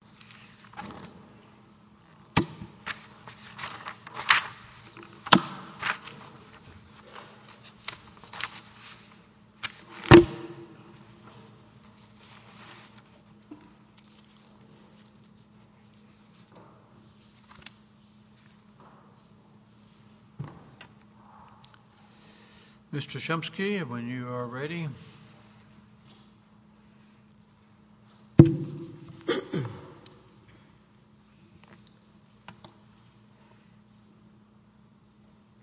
Dish Network Corporation v. NLRB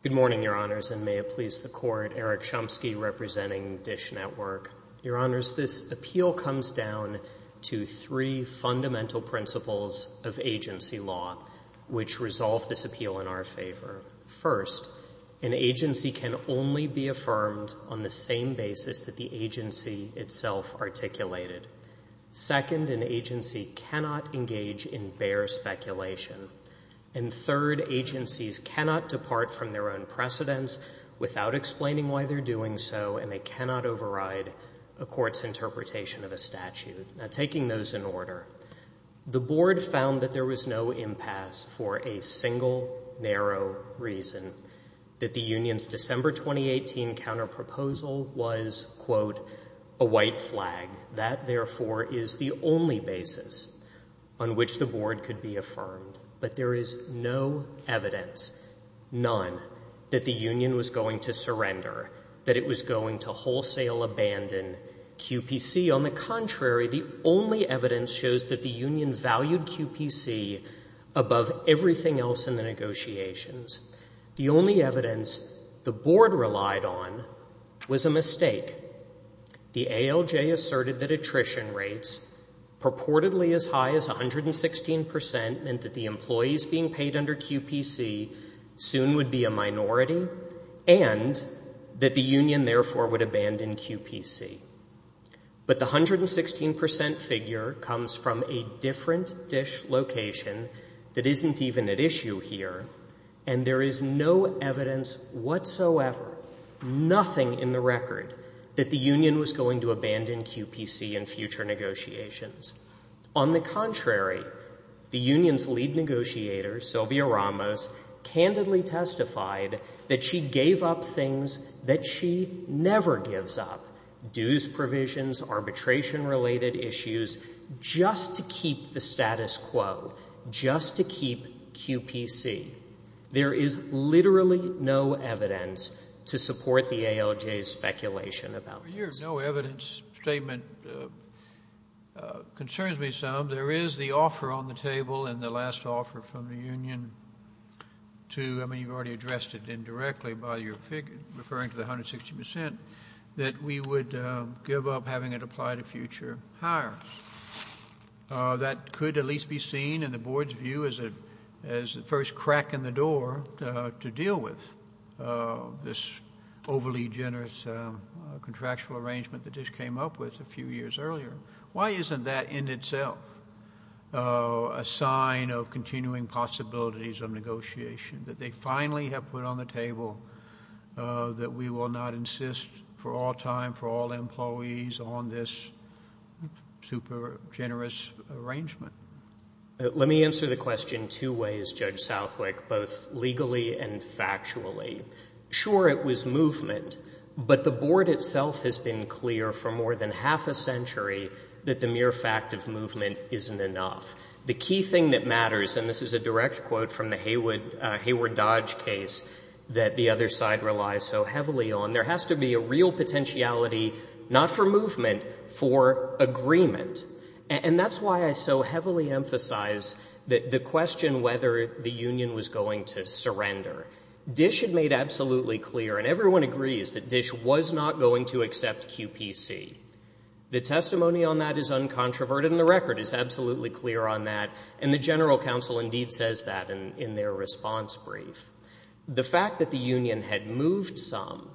Good morning, Your Honors, and may it please the Court, Eric Chomsky representing Dish Network. Your Honors, this appeal comes down to three fundamental principles of agency law which resolve this appeal in our favor. First, an agency can only be affirmed on the same basis that the agency itself articulated. Second, an agency cannot engage in bare speculation. And third, agencies cannot depart from their own precedents without explaining why they're doing so, and they cannot override a court's interpretation of a statute. Now, taking those in order, the Board found that there was no impasse for a single narrow reason, that the union's December 2018 counterproposal was, quote, a white flag. That therefore is the only basis on which the Board could be affirmed. But there is no evidence, none, that the union was going to surrender, that it was going to wholesale abandon QPC. On the contrary, the only evidence shows that the union valued QPC above everything else in the negotiations. The only evidence the Board relied on was a mistake. The ALJ asserted that attrition rates purportedly as high as 116% meant that the employees being paid under QPC soon would be a minority and that the union therefore would abandon QPC. But the 116% figure comes from a different dish location that isn't even at issue here, and there is no evidence whatsoever, nothing in the record, that the union was going to abandon QPC in future negotiations. On the contrary, the union's lead negotiator, Sylvia Ramos, candidly testified that she never gives up dues provisions, arbitration-related issues, just to keep the status quo, just to keep QPC. There is literally no evidence to support the ALJ's speculation about this. JUSTICE SCALIA. Your no evidence statement concerns me some. There is the offer on the table and the last offer from the union to — I mean, you've already addressed it indirectly by your figure, referring to the 160% — that we would give up having it apply to future hires. That could at least be seen in the Board's view as the first crack in the door to deal with this overly generous contractual arrangement that just came up with a few years earlier. Why isn't that in itself a sign of continuing possibilities of negotiation, that they finally have put on the table that we will not insist for all time, for all employees, on this super-generous arrangement? MR. WESTMORELAND. Let me answer the question two ways, Judge Southwick, both legally and factually. Sure, it was movement, but the Board itself has been clear for more than half a century that the mere fact of movement isn't enough. The key thing that matters — and this is a direct quote from the Hayward Dodge case that the other side relies so heavily on — there has to be a real potentiality, not for movement, for agreement. And that's why I so heavily emphasize the question whether the union was going to surrender. Dish had made absolutely clear, and everyone agrees that Dish was not going to accept QPC. The testimony on that is uncontroverted, and the record is absolutely clear on that, and the General Counsel indeed says that in their response brief. The fact that the union had moved some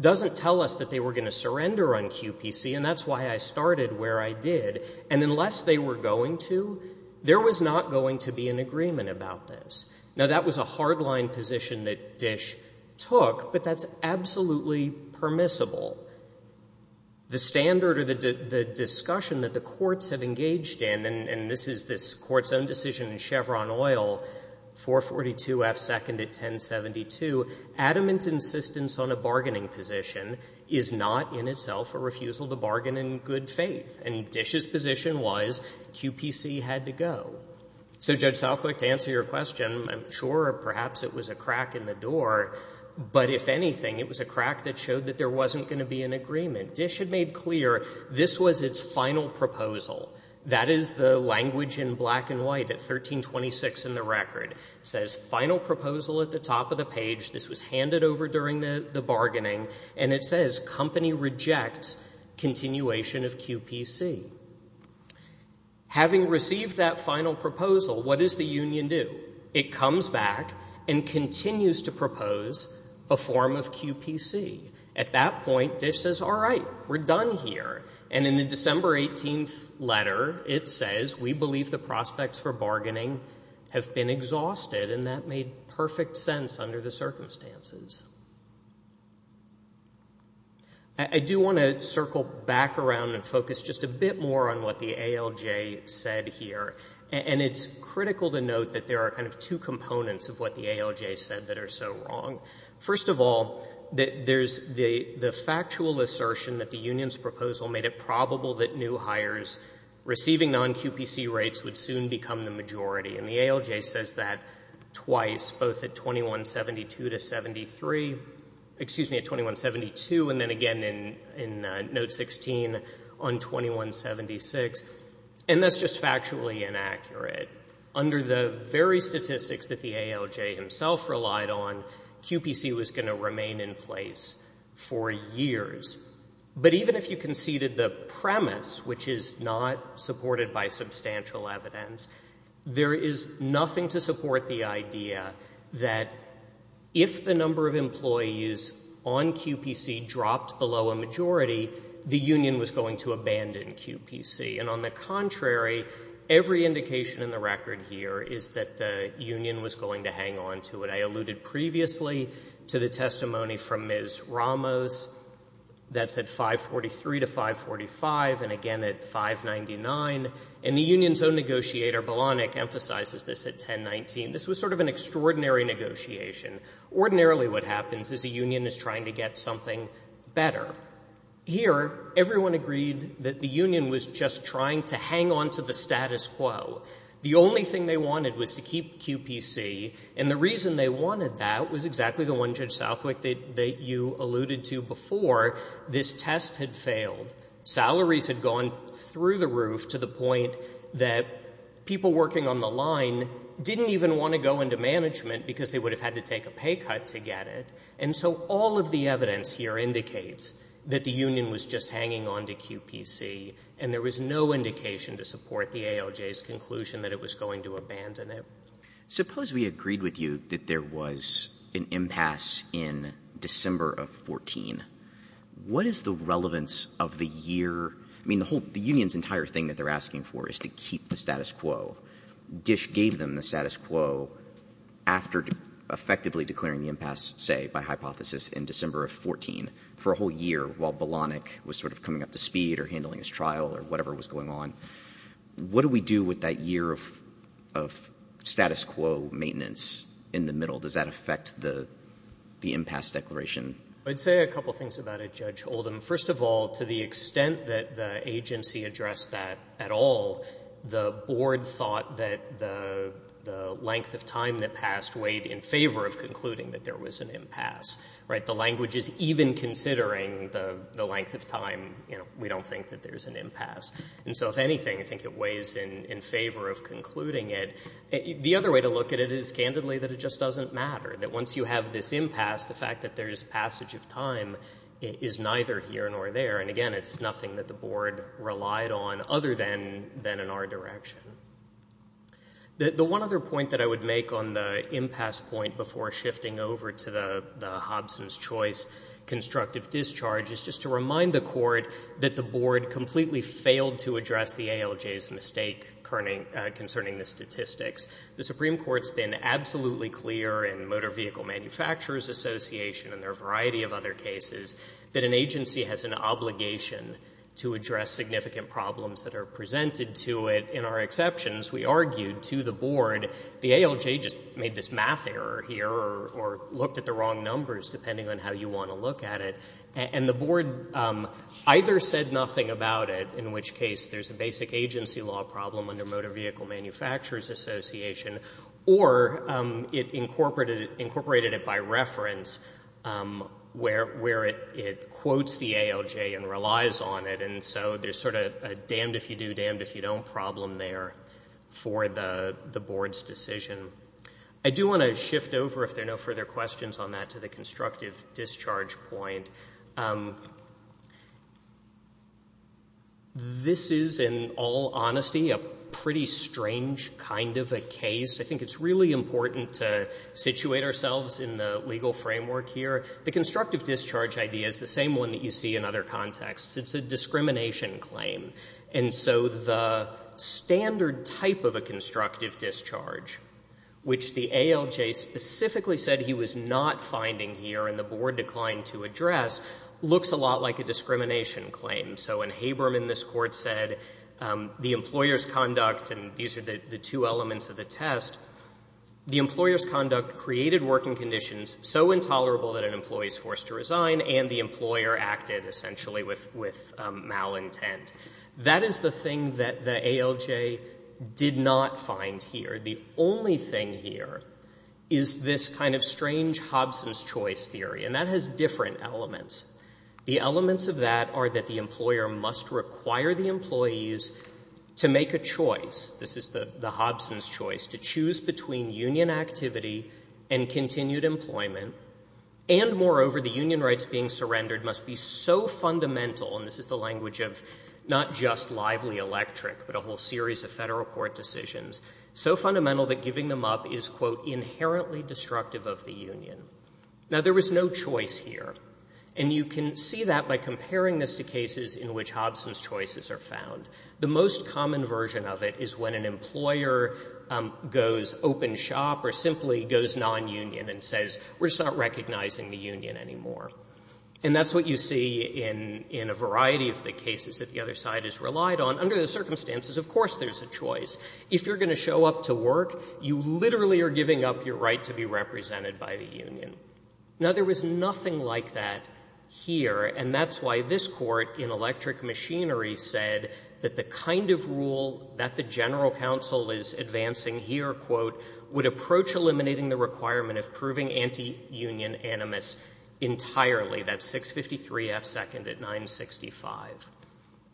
doesn't tell us that they were going to surrender on QPC, and that's why I started where I did. And unless they were going to, there was not going to be an agreement about this. Now, that was a hard-line position that Dish took, but that's absolutely permissible. The standard or the discussion that the courts have engaged in — and this is this court's own decision in Chevron Oil, 442F, seconded 1072 — adamant insistence on a bargaining position is not in itself a refusal to bargain in good faith, and Dish's position was QPC had to go. So Judge Southwick, to answer your question, I'm sure perhaps it was a crack in the door, but if anything, it was a crack that showed that there wasn't going to be an agreement. Dish had made clear this was its final proposal. That is the language in black and white at 1326 in the record. It says final proposal at the top of the page. This was handed over during the bargaining, and it says company rejects continuation of QPC. Having received that final proposal, what does the union do? It comes back and continues to propose a form of QPC. At that point, Dish says, all right, we're done here, and in the December 18th letter, it says, we believe the prospects for bargaining have been exhausted, and that made perfect sense under the circumstances. I do want to circle back around and focus just a bit more on what the ALJ said here, and it's critical to note that there are kind of two components of what the ALJ said that are so wrong. First of all, there's the factual assertion that the union's proposal made it probable that new hires receiving non-QPC rates would soon become the majority, and the ALJ says that twice, both at 2172 to 73, excuse me, at 2172, and then again in note 16 on 2176, and that's just factually inaccurate. Under the very statistics that the ALJ himself relied on, QPC was going to remain in place for years, but even if you conceded the premise, which is not supported by substantial evidence, there is nothing to support the idea that if the number of employees on QPC dropped below a majority, the union was going to abandon QPC, and on the contrary, every indication in the record here is that the union was going to hang on to it. I alluded previously to the testimony from Ms. Ramos that's at 543 to 545, and again at 599, and the union's own negotiator, Bolanek, emphasizes this at 1019. This was sort of an extraordinary negotiation. Ordinarily what happens is a union is trying to get something better. Here, everyone agreed that the union was just trying to hang on to the status quo. The only thing they wanted was to keep QPC, and the reason they wanted that was exactly the one, Judge Southwick, that you alluded to before. This test had failed. Salaries had gone through the roof to the point that people working on the line didn't even want to go into management because they would have had to take a pay cut to get it, and so all of the evidence here indicates that the union was just hanging on to QPC, and there was no indication to support the ALJ's conclusion that it was going to abandon it. Suppose we agreed with you that there was an impasse in December of 14. What is the relevance of the year? I mean, the whole — the union's entire thing that they're asking for is to keep the status quo. Dish gave them the status quo after effectively declaring the impasse, say, by hypothesis in December of 14 for a whole year while Bolanek was sort of coming up to speed or handling his trial or whatever was going on. What do we do with that year of status quo maintenance in the middle? Does that affect the impasse declaration? I'd say a couple things about it, Judge Oldham. First of all, to the extent that the agency addressed that at all, the board thought that the length of time that passed weighed in favor of concluding that there was an impasse, right? The language is even considering the length of time, you know, we don't think that there's an impasse. And so if anything, I think it's in favor of concluding it. The other way to look at it is, candidly, that it just doesn't matter, that once you have this impasse, the fact that there's passage of time is neither here nor there. And again, it's nothing that the board relied on other than an R-direction. The one other point that I would make on the impasse point before shifting over to the Hobson's choice constructive discharge is just to remind the Court that the board completely failed to address the ALJ's mistake concerning the statistics. The Supreme Court's been absolutely clear in Motor Vehicle Manufacturers Association and there are a variety of other cases that an agency has an obligation to address significant problems that are presented to it. In our exceptions, we argued to the board, the ALJ just made this math error here or looked at the wrong numbers, depending on how you want to look at it, and the board either said nothing about it, in which case there's a basic agency law problem under Motor Vehicle Manufacturers Association, or it incorporated it by reference where it quotes the ALJ and relies on it. And so there's sort of a damned if you do, damned if you don't problem there for the board's decision. I do want to shift over, if there are no further questions on that, to the constructive discharge point. This is, in all honesty, a pretty strange kind of a case. I think it's really important to situate ourselves in the legal framework here. The constructive discharge idea is the same one that you see in other contexts. It's a discrimination claim. And so the standard type of a constructive discharge, which the board declined to address, looks a lot like a discrimination claim. So when Haberman in this court said, the employer's conduct, and these are the two elements of the test, the employer's conduct created working conditions so intolerable that an employee is forced to resign, and the employer acted essentially with malintent. That is the thing that the Hobson's choice theory, and that has different elements. The elements of that are that the employer must require the employees to make a choice, this is the Hobson's choice, to choose between union activity and continued employment, and moreover, the union rights being surrendered must be so fundamental, and this is the language of not just lively electric but a whole series of federal court decisions, so fundamental that giving them up is, quote, inherently destructive of the union. Now, there was no choice here. And you can see that by comparing this to cases in which Hobson's choices are found. The most common version of it is when an employer goes open shop or simply goes nonunion and says, we're not recognizing the union anymore. And that's what you see in a variety of the cases that the other side has relied on. Under the circumstances, of course there's a choice. If you're going to show up to work, you literally are giving up your right to be represented by the union. Now, there was nothing like that here, and that's why this Court in Electric Machinery said that the kind of rule that the general counsel is advancing here, quote, would approach eliminating the requirement of proving anti-union animus entirely. That's 653 F. 2nd at 965.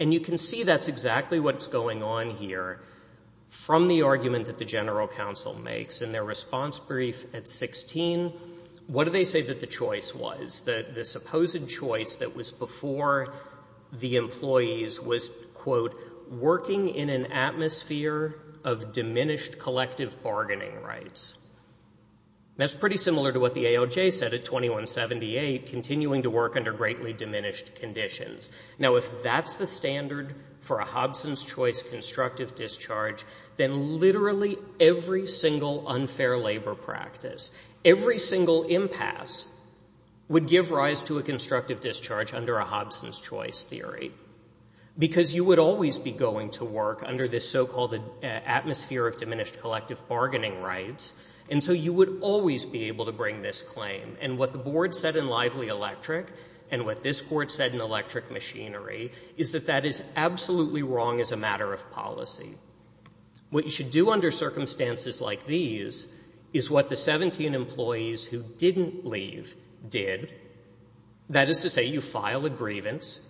And you can see that's exactly what's going on here from the argument that the general counsel makes in their response brief at 16. What do they say that the choice was? That the supposed choice that was before the employees was, quote, working in an atmosphere of diminished collective bargaining rights. That's pretty similar to what the ALJ said at 2178, continuing to work under greatly diminished conditions. Now, if that's the standard for a Hobson's Choice constructive discharge, then literally every single unfair labor practice, every single impasse would give rise to a constructive discharge under a Hobson's Choice theory. Because you would always be going to work under this so-called atmosphere of diminished collective bargaining rights, and so you would always be able to bring this claim. And what the Board said in Lively Electric, and what this Court said in Electric Machinery, is that that is absolutely wrong as a matter of policy. What you should do under circumstances like these is what the 17 employees who didn't leave did. That is to say, you file a grievance,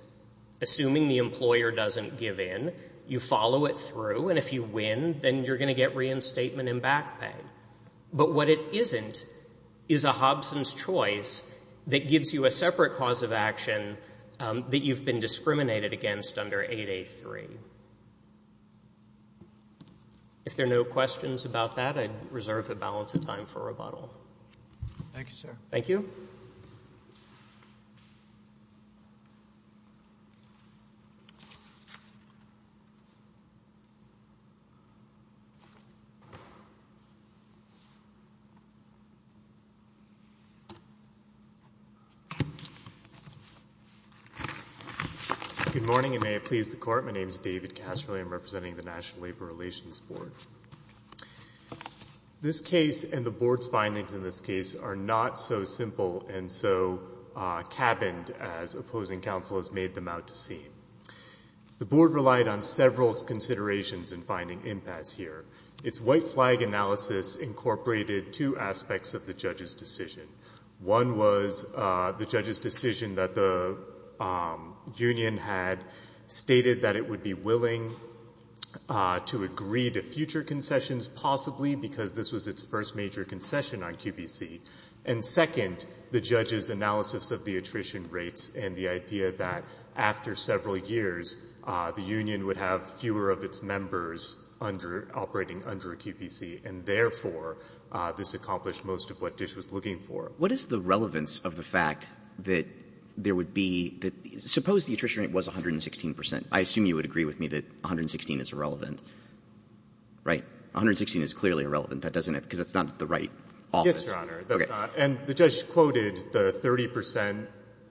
assuming the employer doesn't give in, you follow it through, and if you win, then you're going to get reinstatement and back pay. But what it isn't is a Hobson's Choice that gives you a separate cause of action that you've been discriminated against under 8A3. If there are no questions about that, I reserve the balance of time for rebuttal. Thank you, sir. Thank you. Good morning, and may it please the Court. My name is David Casserly. I'm representing the National Labor Relations Board. This case and the Board's findings in this case are not so simple and so cabined as opposing counsel has made them out to seem. The Board relied on several considerations in finding impasse here. Its white flag analysis incorporated two aspects of the judge's decision. One was the judge's decision that the union had stated that it would be willing to agree to future concessions, possibly because this was its first major concession on QPC. And second, the judge's analysis of the attrition rates and the idea that after several years, the union would have fewer of its members under — operating under a QPC. And therefore, this accomplished most of what Dish was looking for. What is the relevance of the fact that there would be — suppose the attrition rate was 116 percent. I assume you would agree with me that 116 is irrelevant, right? 116 is clearly irrelevant, because that's not the right office. Yes, Your Honor. That's not. And the judge quoted the 30 percent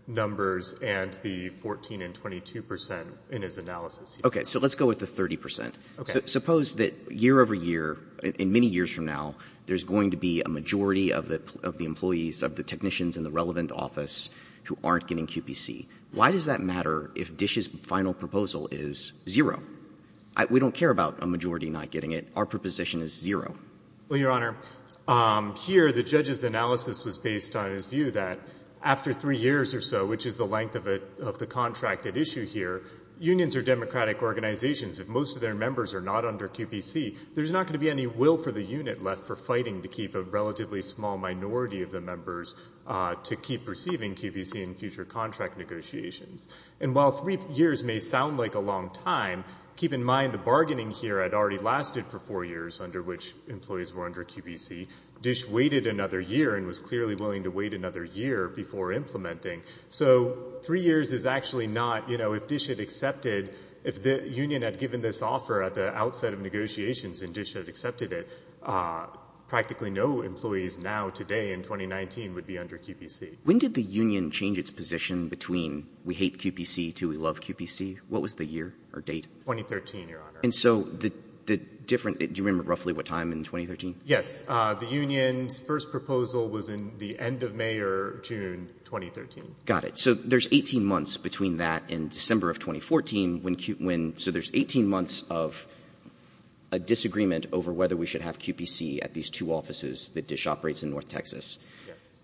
numbers and the 14 and 22 percent in his analysis. Okay. So let's go with the 30 percent. Okay. Suppose that year over year, in many years from now, there's going to be a majority of the employees, of the technicians in the relevant office who aren't getting QPC. Why does that matter if Dish's final proposal is zero? We don't care about a majority not getting it. Our preposition is zero. Well, Your Honor, here the judge's analysis was based on his view that after three years or so, which is the length of the contract at issue here, unions are democratic organizations. If most of their members are not under QPC, there's not going to be any will for the unit left for fighting to keep a relatively small minority of the members to keep receiving QPC in future contract negotiations. And while three years may sound like a long time, keep in mind the bargaining here had already lasted for four years under which employees were under QPC. Dish waited another year and was clearly willing to wait another year before implementing. So three years is actually not, you know, if Dish had accepted, if the union had given this offer at the outset of negotiations and Dish had accepted it, practically no employees now today in 2019 would be under QPC. When did the union change its position between we hate QPC to we love QPC? What was the year or date? 2013, Your Honor. And so the different, do you remember roughly what time in 2013? Yes. The union's first proposal was in the end of May or June 2013. Got it. So there's 18 months between that and December of 2014 when, so there's 18 months of a disagreement over whether we should have QPC at these two offices that Dish operates in North Texas. Yes.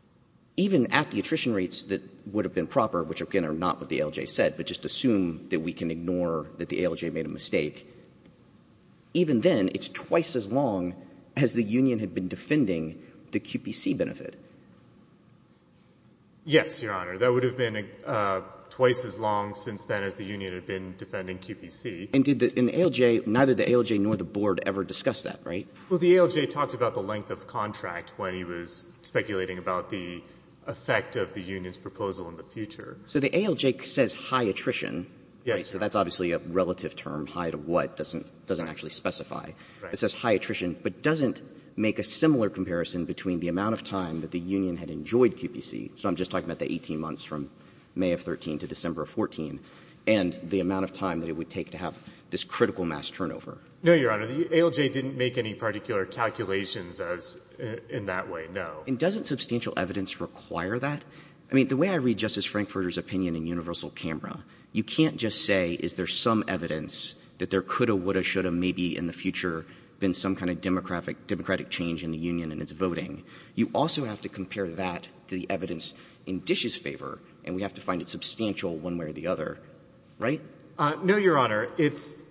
Even at the attrition rates that would have been proper, which again are not what the ALJ said, but just assume that we can ignore that the ALJ made a mistake. Even then, it's twice as long as the union had been defending the QPC benefit. Yes, Your Honor. That would have been twice as long since then as the union had been defending QPC. And did the, in the ALJ, neither the ALJ nor the board ever discussed that, right? Well, the ALJ talked about the length of contract when he was speculating about the effect of the union's proposal in the future. So the ALJ says high attrition. Yes. So that's obviously a relative term, high to what, doesn't actually specify. Right. It says high attrition, but doesn't make a similar comparison between the amount of time that the union had enjoyed QPC, so I'm just talking about the 18 months from May of 2013 to December of 2014, and the amount of time that it would take to have this critical mass turnover. No, Your Honor. The ALJ didn't make any particular calculations as in that way, no. And doesn't substantial evidence require that? I mean, the way I read Justice Frankfurter's opinion in universal camera, you can't just say, is there some evidence that there could have, would have, should have maybe in the future been some kind of democratic change in the union and its voting. You also have to compare that to the evidence in Dish's favor, and we have to find it substantial one way or the other, right? No, Your Honor. It's,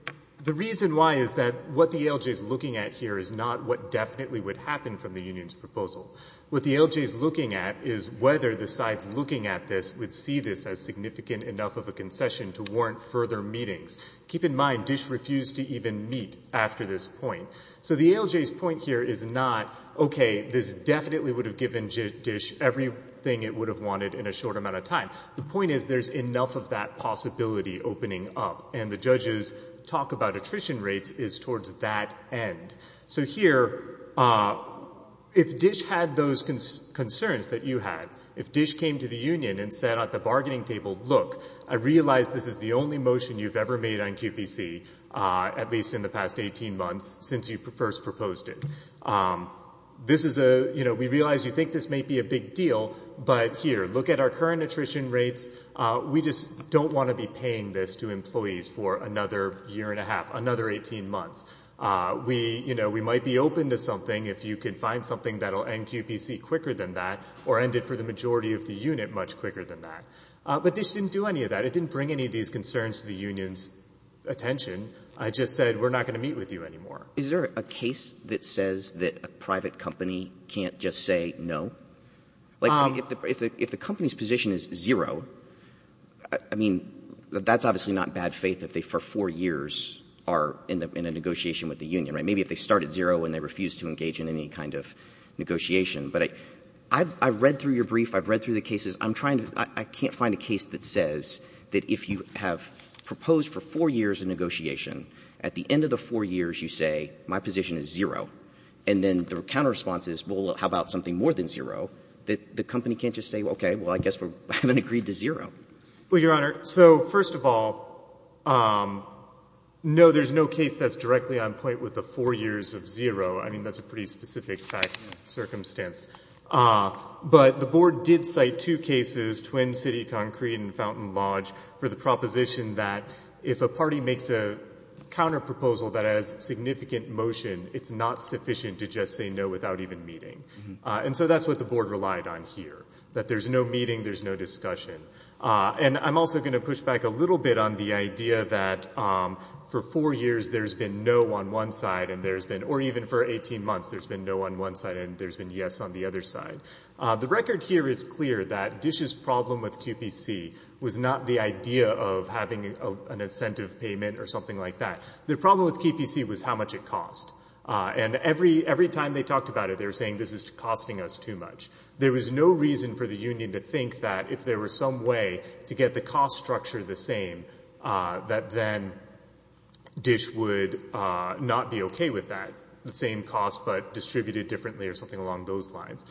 the reason why is that what the ALJ is looking at here is not what definitely would happen from the union's proposal. What the ALJ is looking at is whether the sides looking at this would see this as significant enough of a concession to warrant further meetings. Keep in mind, Dish refused to even meet after this point. So the ALJ's point here is not, okay, this definitely would have given Dish everything it would have wanted in a short amount of time. The point is, there's enough of that possibility opening up, and the judge's talk about attrition rates is towards that end. So here, if Dish had those concerns that you had, if Dish came to the union and said at the bargaining table, look, I realize this is the only motion you've ever made on QPC, at least in the past 18 months, since you first proposed it. This is a, you know, we realize you think this may be a big deal, but here, look at our current attrition rates. We just don't want to be paying this to employees for another year and a half, another 18 months. We, you know, we might be open to something if you could find something that'll end QPC quicker than that, or end it for the majority of the unit much quicker than that, but Dish didn't do any of that. It didn't bring any of these concerns to the union's attention. It just said, we're not going to meet with you anymore. Is there a case that says that a private company can't just say no? Like, if the company's position is zero, I mean, that's obviously not in bad faith if they, for four years, are in a negotiation with the union, right? Maybe if they start at zero and they refuse to engage in any kind of negotiation. But I've read through your brief. I've read through the cases. I'm trying to, I can't find a case that says that if you have proposed for four years of negotiation, at the end of the four years, you say, my position is zero. And then the counter response is, well, how about something more than zero? That the company can't just say, okay, well, I guess we haven't agreed to zero. Well, Your Honor, so first of all, no, there's no case that's directly on point with the four years of zero. I mean, that's a pretty specific fact and circumstance. But the board did cite two cases, Twin City Concrete and Fountain Lodge, for the proposition that if a party makes a counter proposal that has significant motion, it's not sufficient to just say no without even meeting. And so that's what the board relied on here. That there's no meeting, there's no discussion. And I'm also gonna push back a little bit on the idea that for four years, there's been no on one side and there's been, or even for 18 months, there's been no on one side and there's been yes on the other side. The record here is clear that Dish's problem with QPC was not the idea of having an incentive payment or something like that. The problem with QPC was how much it cost. And every time they talked about it, they were saying this is costing us too much. There was no reason for the union to think that if there was some way to get the cost structure the same, that then Dish would not be okay with that. The same cost but distributed differently or something along those lines.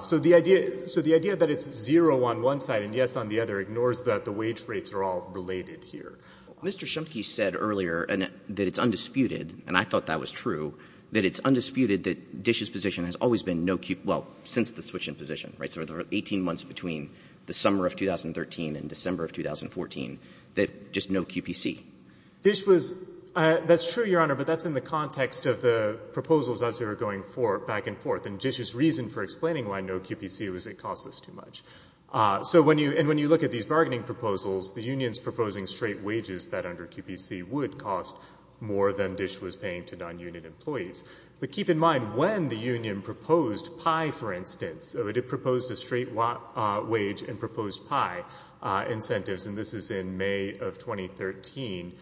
So the idea that it's zero on one side and yes on the other ignores that the wage rates are all related here. Mr. Schumpke said earlier that it's undisputed, and I thought that was true, that it's undisputed that Dish's position has always been no Q, well, since the switch in position, right? So there were 18 months between the summer of 2013 and December of 2014 that just no QPC. Dish was, that's true, Your Honor, but that's in the context of the proposals as they were going back and forth. And Dish's reason for explaining why no QPC was it cost us too much. So when you, and when you look at these bargaining proposals, the unions proposing straight wages that under QPC would cost more than Dish was paying to non-union employees, but keep in mind when the union proposed pie, for instance, so it had proposed a straight wage and proposed pie incentives, and this is in May of 2013.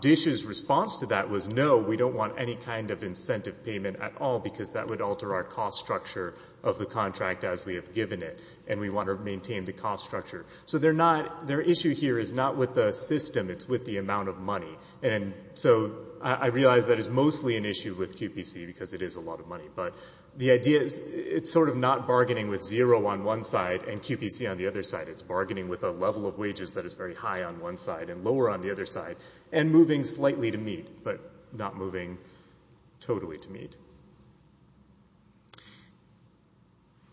Dish's response to that was no, we don't want any kind of incentive payment at all, because that would alter our cost structure of the contract as we have given it. And we want to maintain the cost structure. So they're not, their issue here is not with the system, it's with the amount of money. And so I realize that is mostly an issue with QPC because it is a lot of money, but the idea is it's sort of not bargaining with zero on one side and QPC on the other side. It's bargaining with a level of wages that is very high on one side and lower on the other side and moving slightly to meet, but not moving totally to meet.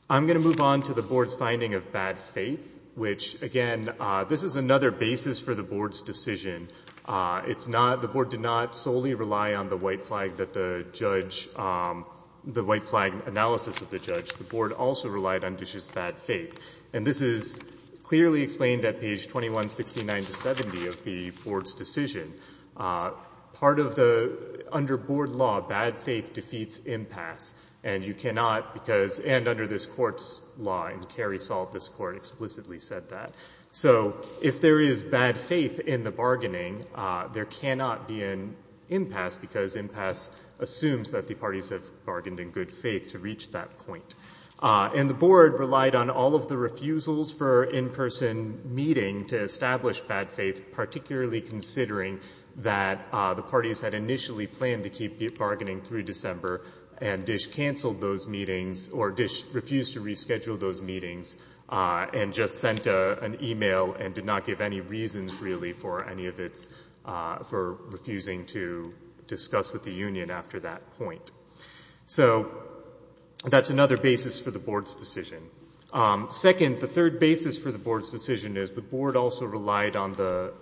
I'm going to move on to the board's finding of bad faith, which again, this is another basis for the board's decision. It's not, the board did not solely rely on the white flag that the judge, the white flag analysis of the judge. The board also relied on Dish's bad faith. And this is clearly explained at page 2169 to 70 of the board's decision. Part of the, under board law, bad faith defeats impasse, and you cannot, because, and under this court's law, and Carrie Salt, this court, explicitly said that. So if there is bad faith in the bargaining, there cannot be an impasse because impasse assumes that the parties have bargained in good faith to reach that point. And the board relied on all of the refusals for in-person meeting to establish bad faith, particularly considering that the parties had initially planned to keep bargaining through December and Dish canceled those meetings or Dish refused to reschedule those meetings and just sent an email and did not give any reasons really for any of its, for refusing to discuss with the union after that point. So that's another basis for the board's decision. Second, the third basis for the board's decision is the board also relied on the,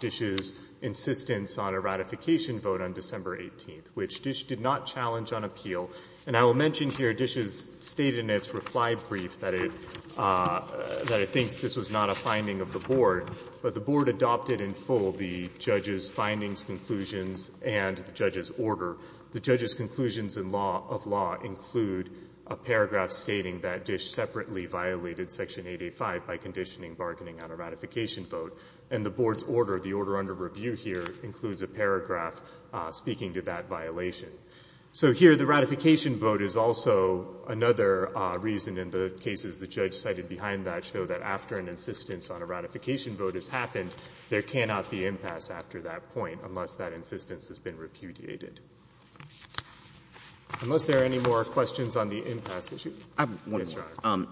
Dish's insistence on a ratification vote on December 18th, which Dish did not challenge on appeal. And I will mention here Dish's state in its reply brief that it, that it thinks this was not a finding of the board, but the board adopted in full the judge's findings, conclusions, and the judge's order. The judge's conclusions in law, of law, include a paragraph stating that Dish separately violated Section 885 by conditioning bargaining on a ratification vote. And the board's order, the order under review here, includes a paragraph speaking to that violation. So here the ratification vote is also another reason in the cases the judge cited behind that show that after an insistence on a ratification vote has happened, there cannot be impasse after that point unless that insistence has been repudiated. Unless there are any more questions on the impasse issue. Yes, Your Honor.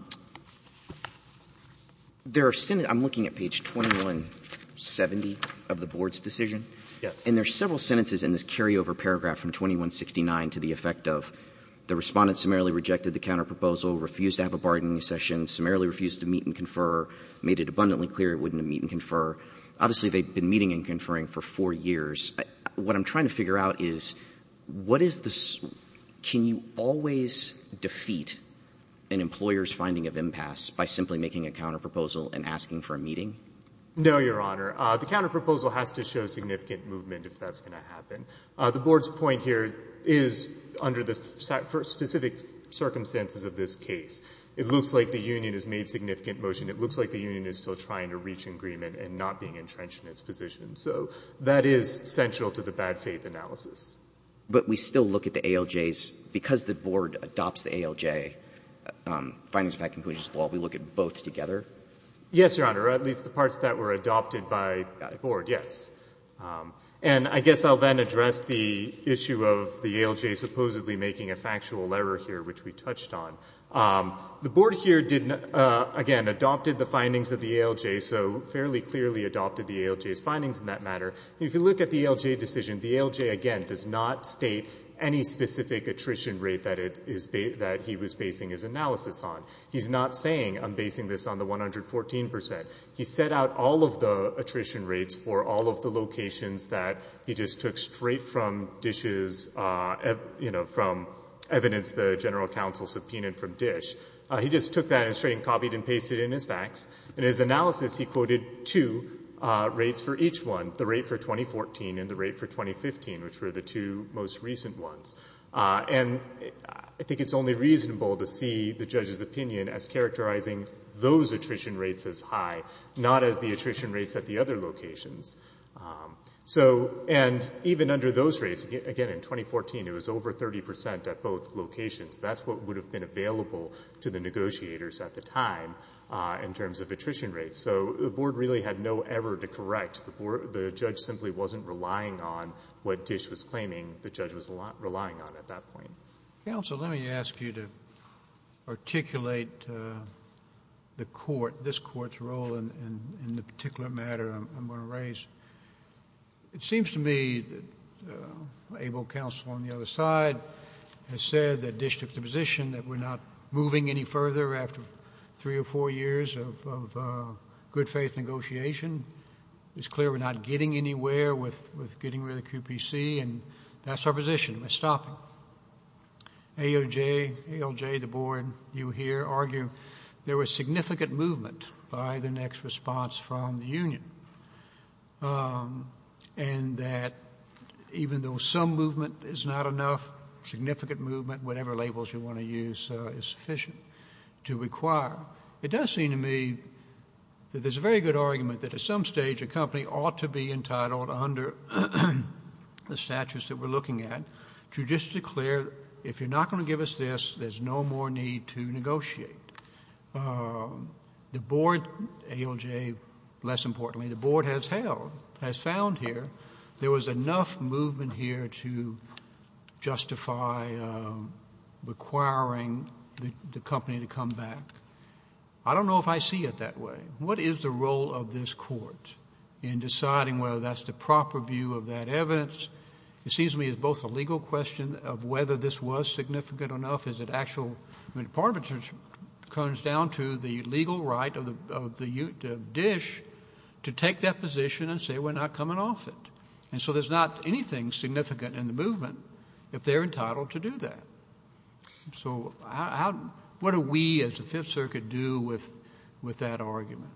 There are, I'm looking at page 2170 of the board's decision. Yes. And there are several sentences in this carryover paragraph from 2169 to the effect of the Respondent summarily rejected the counterproposal, refused to have a bargaining session, summarily refused to meet and confer, made it abundantly clear it wouldn't meet and confer. Obviously, they've been meeting and conferring for four years. What I'm trying to figure out is what is the ‑‑ can you always defeat an employer's finding of impasse by simply making a counterproposal and asking for a meeting? No, Your Honor. The counterproposal has to show significant movement if that's going to happen. The board's point here is under the specific circumstances of this case. It looks like the union has made significant motion. It looks like the union is still trying to reach agreement and not being entrenched in its position. So that is central to the bad faith analysis. But we still look at the ALJs. Because the board adopts the ALJ, findings of bad conclusions law, we look at both together? Yes, Your Honor. At least the parts that were adopted by the board, yes. And I guess I'll then address the issue of the ALJ supposedly making a factual error here, which we touched on. The board here, again, adopted the findings of the ALJ, so fairly clearly adopted the ALJ's findings in that matter. If you look at the ALJ decision, the ALJ, again, does not state any specific attrition rate that he was basing his analysis on. He's not saying, I'm basing this on the 114%. He set out all of the attrition rates for all of the locations that he just took straight from DISH's, you know, from evidence the general counsel subpoenaed from DISH. He just took that and straight copied and pasted it in his facts. In his analysis, he quoted two rates for each one, the rate for 2014 and the rate for 2015, which were the two most recent ones. And I think it's only reasonable to see the judge's opinion as characterizing those attrition rates as high, not as the attrition rates at the other locations. So and even under those rates, again, in 2014, it was over 30% at both locations. That's what would have been available to the negotiators at the time in terms of attrition rates. So the board really had no error to correct. The judge simply wasn't relying on what DISH was claiming. The judge was relying on at that point. JUSTICE SCALIA. Counsel, let me ask you to articulate the court, this court's role in the particular matter I'm going to raise. It seems to me that ABLE counsel on the other side has said that DISH took the position that we're not moving any further after three or four years of good faith negotiation. It's clear we're not getting anywhere with getting rid of QPC, and that's our position. We're stopping. AOJ, ALJ, the board, you here argue there was significant movement by the next response from the union and that even though some movement is not enough, significant movement, whatever labels you want to use, is sufficient to require. It does seem to me that there's a very good argument that at some stage a company ought to be entitled under the statutes that we're looking at to just declare, if you're not going to give us this, there's no more need to negotiate. The board, ALJ less importantly, the board has held, has found here there was enough movement here to justify requiring the company to come back. I don't know if I see it that way. What is the role of this court in deciding whether that's the proper view of that evidence? It seems to me it's both a legal question of whether this was significant enough, is it actual... I mean, part of it comes down to the legal right of DISH to take that position and say we're not coming off it. And so there's not anything significant in the movement if they're entitled to do that. So what do we as the Fifth Circuit do with that argument?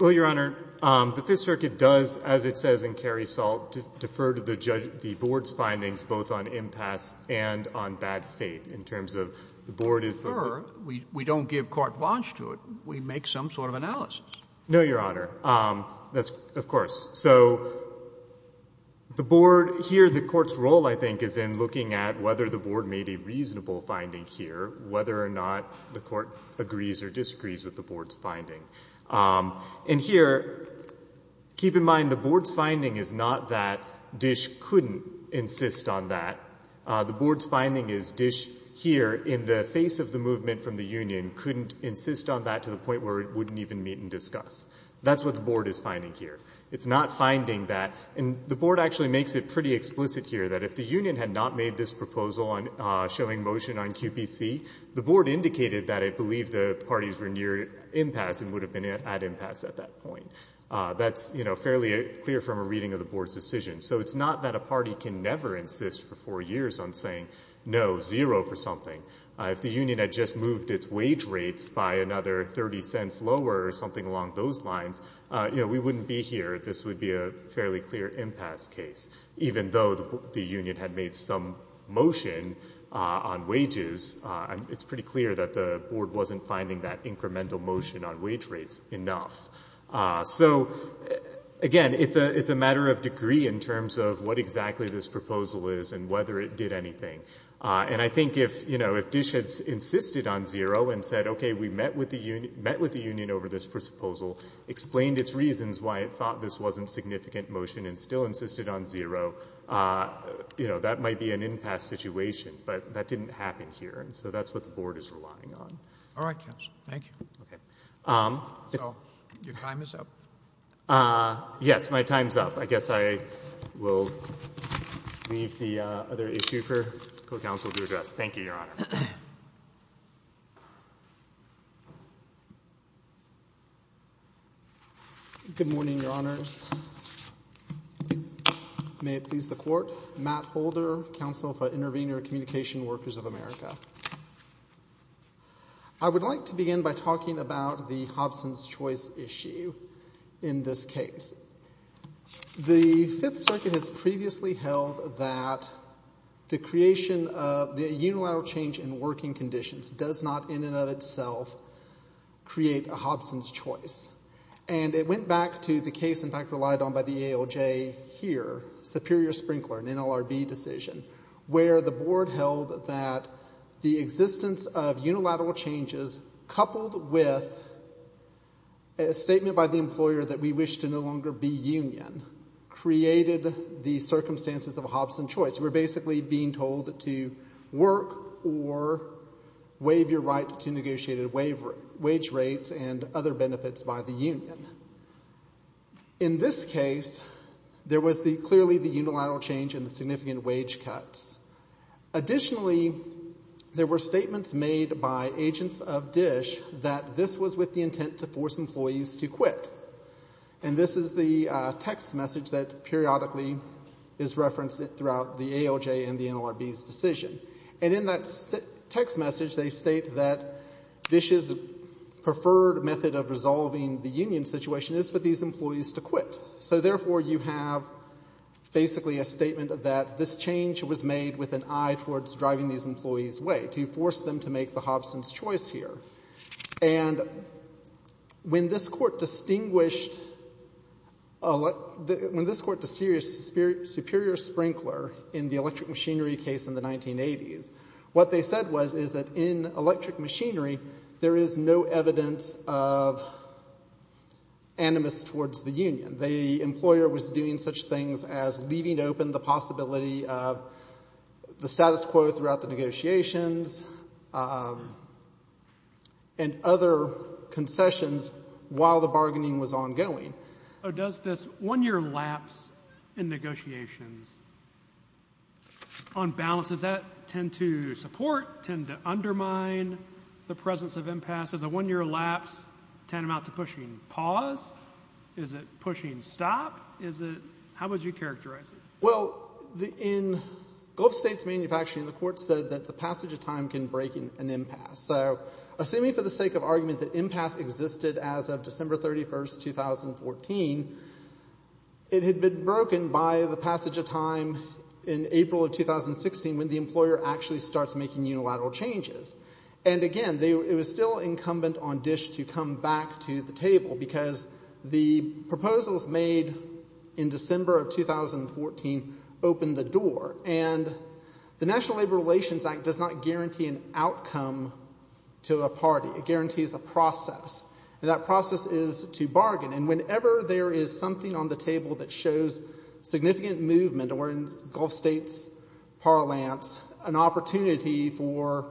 Well, Your Honor, the Fifth Circuit does, as it says in Cary Salt, defer to the board's findings both on impasse and on bad faith in terms of the board is... They defer. We don't give carte blanche to it. We make some sort of analysis. No, Your Honor, of course. So the board here, the court's role, I think, is in looking at whether the board made a reasonable finding here, whether or not the court agrees or disagrees with the board's finding. And here, keep in mind, the board's finding is not that DISH couldn't insist on that. The board's finding is DISH here, in the face of the movement from the union, couldn't insist on that to the point where it wouldn't even meet and discuss. That's what the board is finding here. It's not finding that... and the board actually makes it pretty explicit here that if the union had not made this proposal showing motion on QPC, the board indicated that it believed the parties were near impasse and would have been at impasse at that point. That's fairly clear from a reading of the board's decision. So it's not that a party can never insist for four years on saying no, zero for something. If the union had just moved its wage rates by another 30 cents lower or something along those lines, you know, we wouldn't be here. This would be a fairly clear impasse case. Even though the union had made some motion on wages, it's pretty clear that the board wasn't finding that incremental motion on wage rates enough. So again, it's a matter of degree in terms of what exactly this proposal is and whether it did anything. And I think if, you know, if DISH had insisted on zero and said, okay, we met with the union over this proposal, explained its reasons why it thought this wasn't significant motion and still insisted on zero, you know, that might be an impasse situation, but that didn't happen here. And so that's what the board is relying on. All right, counsel. Thank you. Okay. So your time is up. Yes. My time's up. I guess I will leave the other issue for co-counsel to address. Thank you, Your Honor. Good morning, Your Honors. May it please the Court. Matt Holder, counsel for Intervenor Communication Workers of America. I would like to begin by talking about the Hobson's Choice issue in this case. The Fifth Circuit has previously held that the creation of the unilateral change in working conditions does not in and of itself create a Hobson's Choice. And it went back to the case, in fact, relied on by the ALJ here, Superior-Sprinkler, an NLRB decision, where the board held that the existence of unilateral changes coupled with a statement by the employer that we wish to no longer be union created the circumstances of a Hobson's Choice. We're basically being told to work or waive your right to negotiated wage rates and other benefits by the union. In this case, there was clearly the unilateral change in the significant wage cuts. Additionally, there were statements made by agents of DISH that this was with the intent to force employees to quit. And this is the text message that periodically is referenced throughout the ALJ and the NLRB's decision. And in that text message, they state that DISH's preferred method of resolving the union situation is for these employees to quit. So therefore, you have basically a statement that this change was made with an eye towards driving these employees away, to force them to make the Hobson's Choice here. And when this Court distinguished Superior-Sprinkler in the electric machinery case in the 1980s, what they said was is that in electric machinery, there is no evidence of animus towards the employer was doing such things as leaving open the possibility of the status quo throughout the negotiations and other concessions while the bargaining was ongoing. Does this one-year lapse in negotiations on balance, does that tend to support, tend to undermine the presence of impasse? Does a one-year lapse tend to amount to pushing pause? Is it pushing stop? Is it? How would you characterize it? Well, in Gulf States manufacturing, the Court said that the passage of time can break an impasse. So assuming for the sake of argument that impasse existed as of December 31st, 2014, it had been broken by the passage of time in April of 2016 when the employer actually starts making unilateral changes. And again, it was still incumbent on DISH to come back to the table because the proposals made in December of 2014 opened the door. And the National Labor Relations Act does not guarantee an outcome to a party. It guarantees a process. That process is to bargain. And whenever there is something on the table that shows significant movement, or in Gulf States parlance, an opportunity for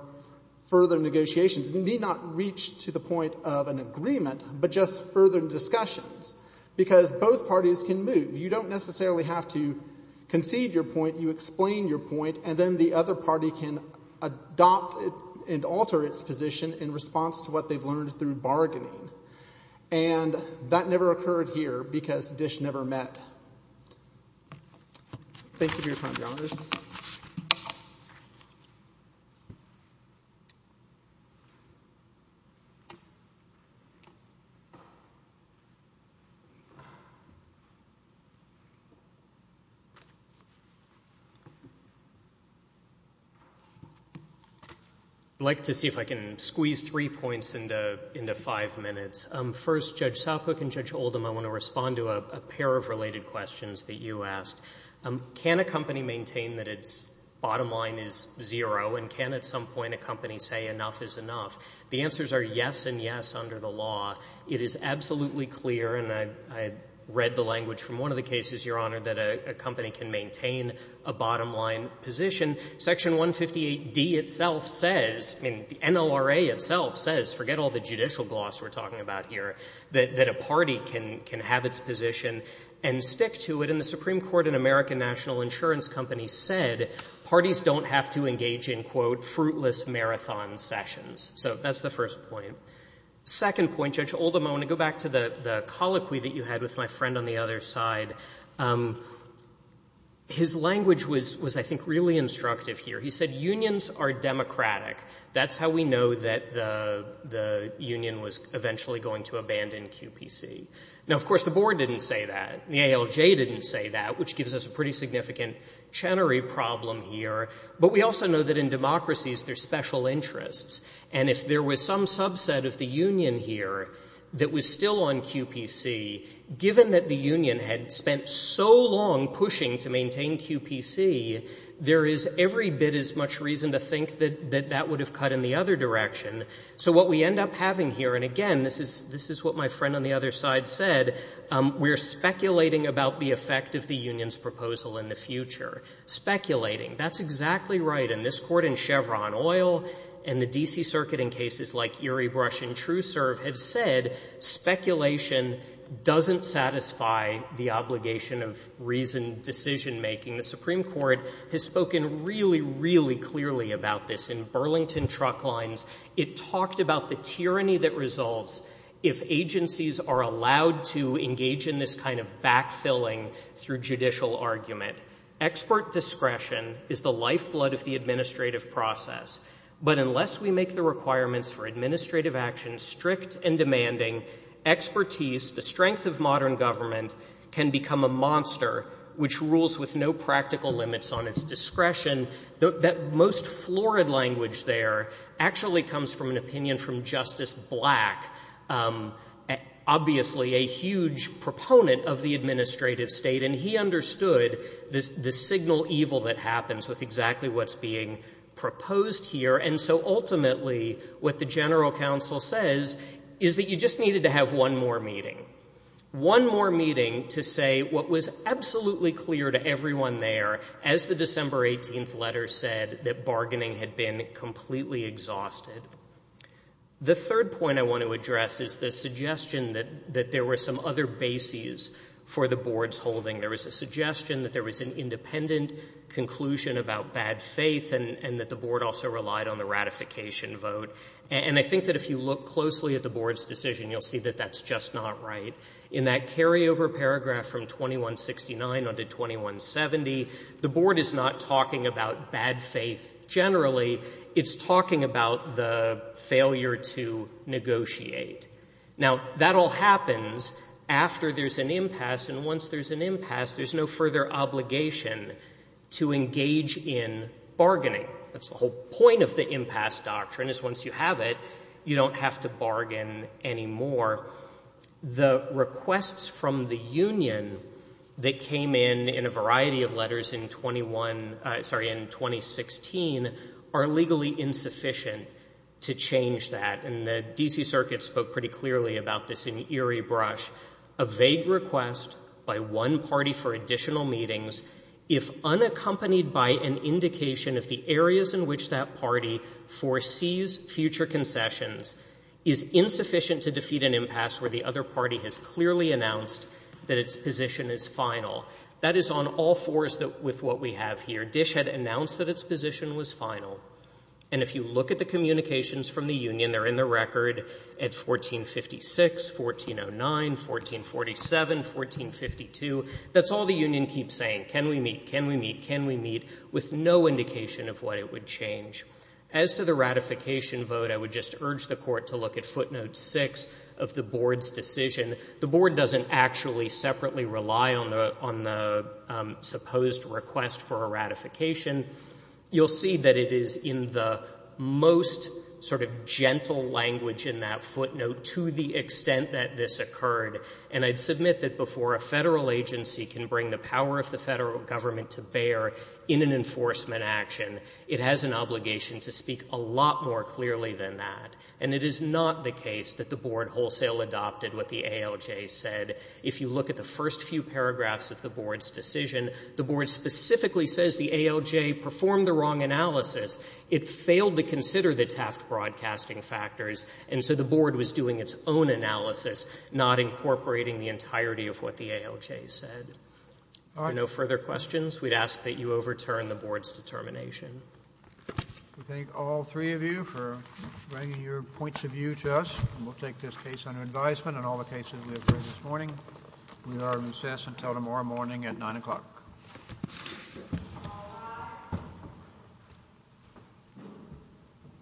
further negotiations need not reach to the point of an agreement, but just further discussions. Because both parties can move. You don't necessarily have to concede your point. You explain your point, and then the other party can adopt and alter its position in response to what they've learned through bargaining. And that never occurred here because DISH never met. Thank you for your time, Your Honors. I'd like to see if I can squeeze three points into five minutes. First, Judge Southbrook and Judge Oldham, I want to respond to a pair of related questions that you asked. Can a company maintain that its bottom line is zero, and can at some point a company say enough is enough? The answers are yes and yes under the law. It is absolutely clear, and I read the language from one of the cases, Your Honor, that a company can maintain a bottom line position. Section 158D itself says, I mean, the NLRA itself says, forget all the judicial gloss we're talking about here, that a party can have its position and stick to it. And the Supreme Court and American National Insurance Company said parties don't have to engage in, quote, fruitless marathon sessions. So that's the first point. Second point, Judge Oldham, I want to go back to the colloquy that you had with my friend on the other side. His language was, I think, really instructive here. He said unions are democratic. That's how we know that the union was eventually going to abandon QPC. Now, of course, the board didn't say that. The ALJ didn't say that, which gives us a pretty significant Chenery problem here. But we also know that in democracies there's special interests. And if there was some subset of the union here that was still on QPC, given that the union had spent so long pushing to maintain QPC, there is every bit as much reason to think that that would have cut in the other direction. So what we end up having here, and again, this is what my friend on the other side said, we're speculating about the effect of the union's proposal in the future. Speculating. That's exactly right. And this Court in Chevron Oil and the D.C. Circuit in cases like Erie Brush and True Serve have said speculation doesn't satisfy the obligation of reasoned decision-making. The Supreme Court has spoken really, really clearly about this in Burlington Truck Lines. It talked about the tyranny that resolves if agencies are allowed to engage in this kind of backfilling through judicial argument. Expert discretion is the lifeblood of the administrative process. But unless we make the requirements for administrative action strict and demanding, expertise, the strength of modern government can become a monster which rules with no practical limits on its discretion. That most florid language there actually comes from an opinion from Justice Black, obviously a huge proponent of the administrative state. And he understood the signal evil that happens with exactly what's being proposed And so ultimately what the general counsel says is that you just needed to have one more meeting. One more meeting to say what was absolutely clear to everyone there as the December 18th letter said, that bargaining had been completely exhausted. The third point I want to address is the suggestion that there were some other bases for the board's holding. There was a suggestion that there was an independent conclusion about bad faith and that the ratification vote. And I think that if you look closely at the board's decision, you'll see that that's just not right. In that carryover paragraph from 2169 onto 2170, the board is not talking about bad faith generally. It's talking about the failure to negotiate. Now, that all happens after there's an impasse. And once there's an impasse, there's no further obligation to engage in bargaining. That's the whole point of the impasse doctrine is once you have it, you don't have to bargain anymore. The requests from the union that came in in a variety of letters in 21, sorry, in 2016 are legally insufficient to change that. And the D.C. Circuit spoke pretty clearly about this in Erie Brush. A vague request by one party for additional meetings, if unaccompanied by an indication of the areas in which that party foresees future concessions is insufficient to defeat an impasse where the other party has clearly announced that its position is final. That is on all fours with what we have here. Dish had announced that its position was final. And if you look at the communications from the union, they're in the record at 1456, 1409, 1447, 1452. That's all the union keeps saying. Can we meet? Can we meet? With no indication of what it would change. As to the ratification vote, I would just urge the Court to look at footnote 6 of the Board's decision. The Board doesn't actually separately rely on the supposed request for a ratification. You'll see that it is in the most sort of gentle language in that footnote to the extent that this occurred. And I'd submit that before a Federal agency can bring the power of the Federal Government to bear in an enforcement action, it has an obligation to speak a lot more clearly than that. And it is not the case that the Board wholesale adopted what the ALJ said. If you look at the first few paragraphs of the Board's decision, the Board specifically says the ALJ performed the wrong analysis. It failed to consider the taft broadcasting factors, and so the Board was doing its own analysis, not incorporating the entirety of what the ALJ said. If there are no further questions, we'd ask that you overturn the Board's determination. We thank all three of you for bringing your points of view to us, and we'll take this case under advisement on all the cases we have heard this morning. We are recessed until tomorrow morning at 9 o'clock.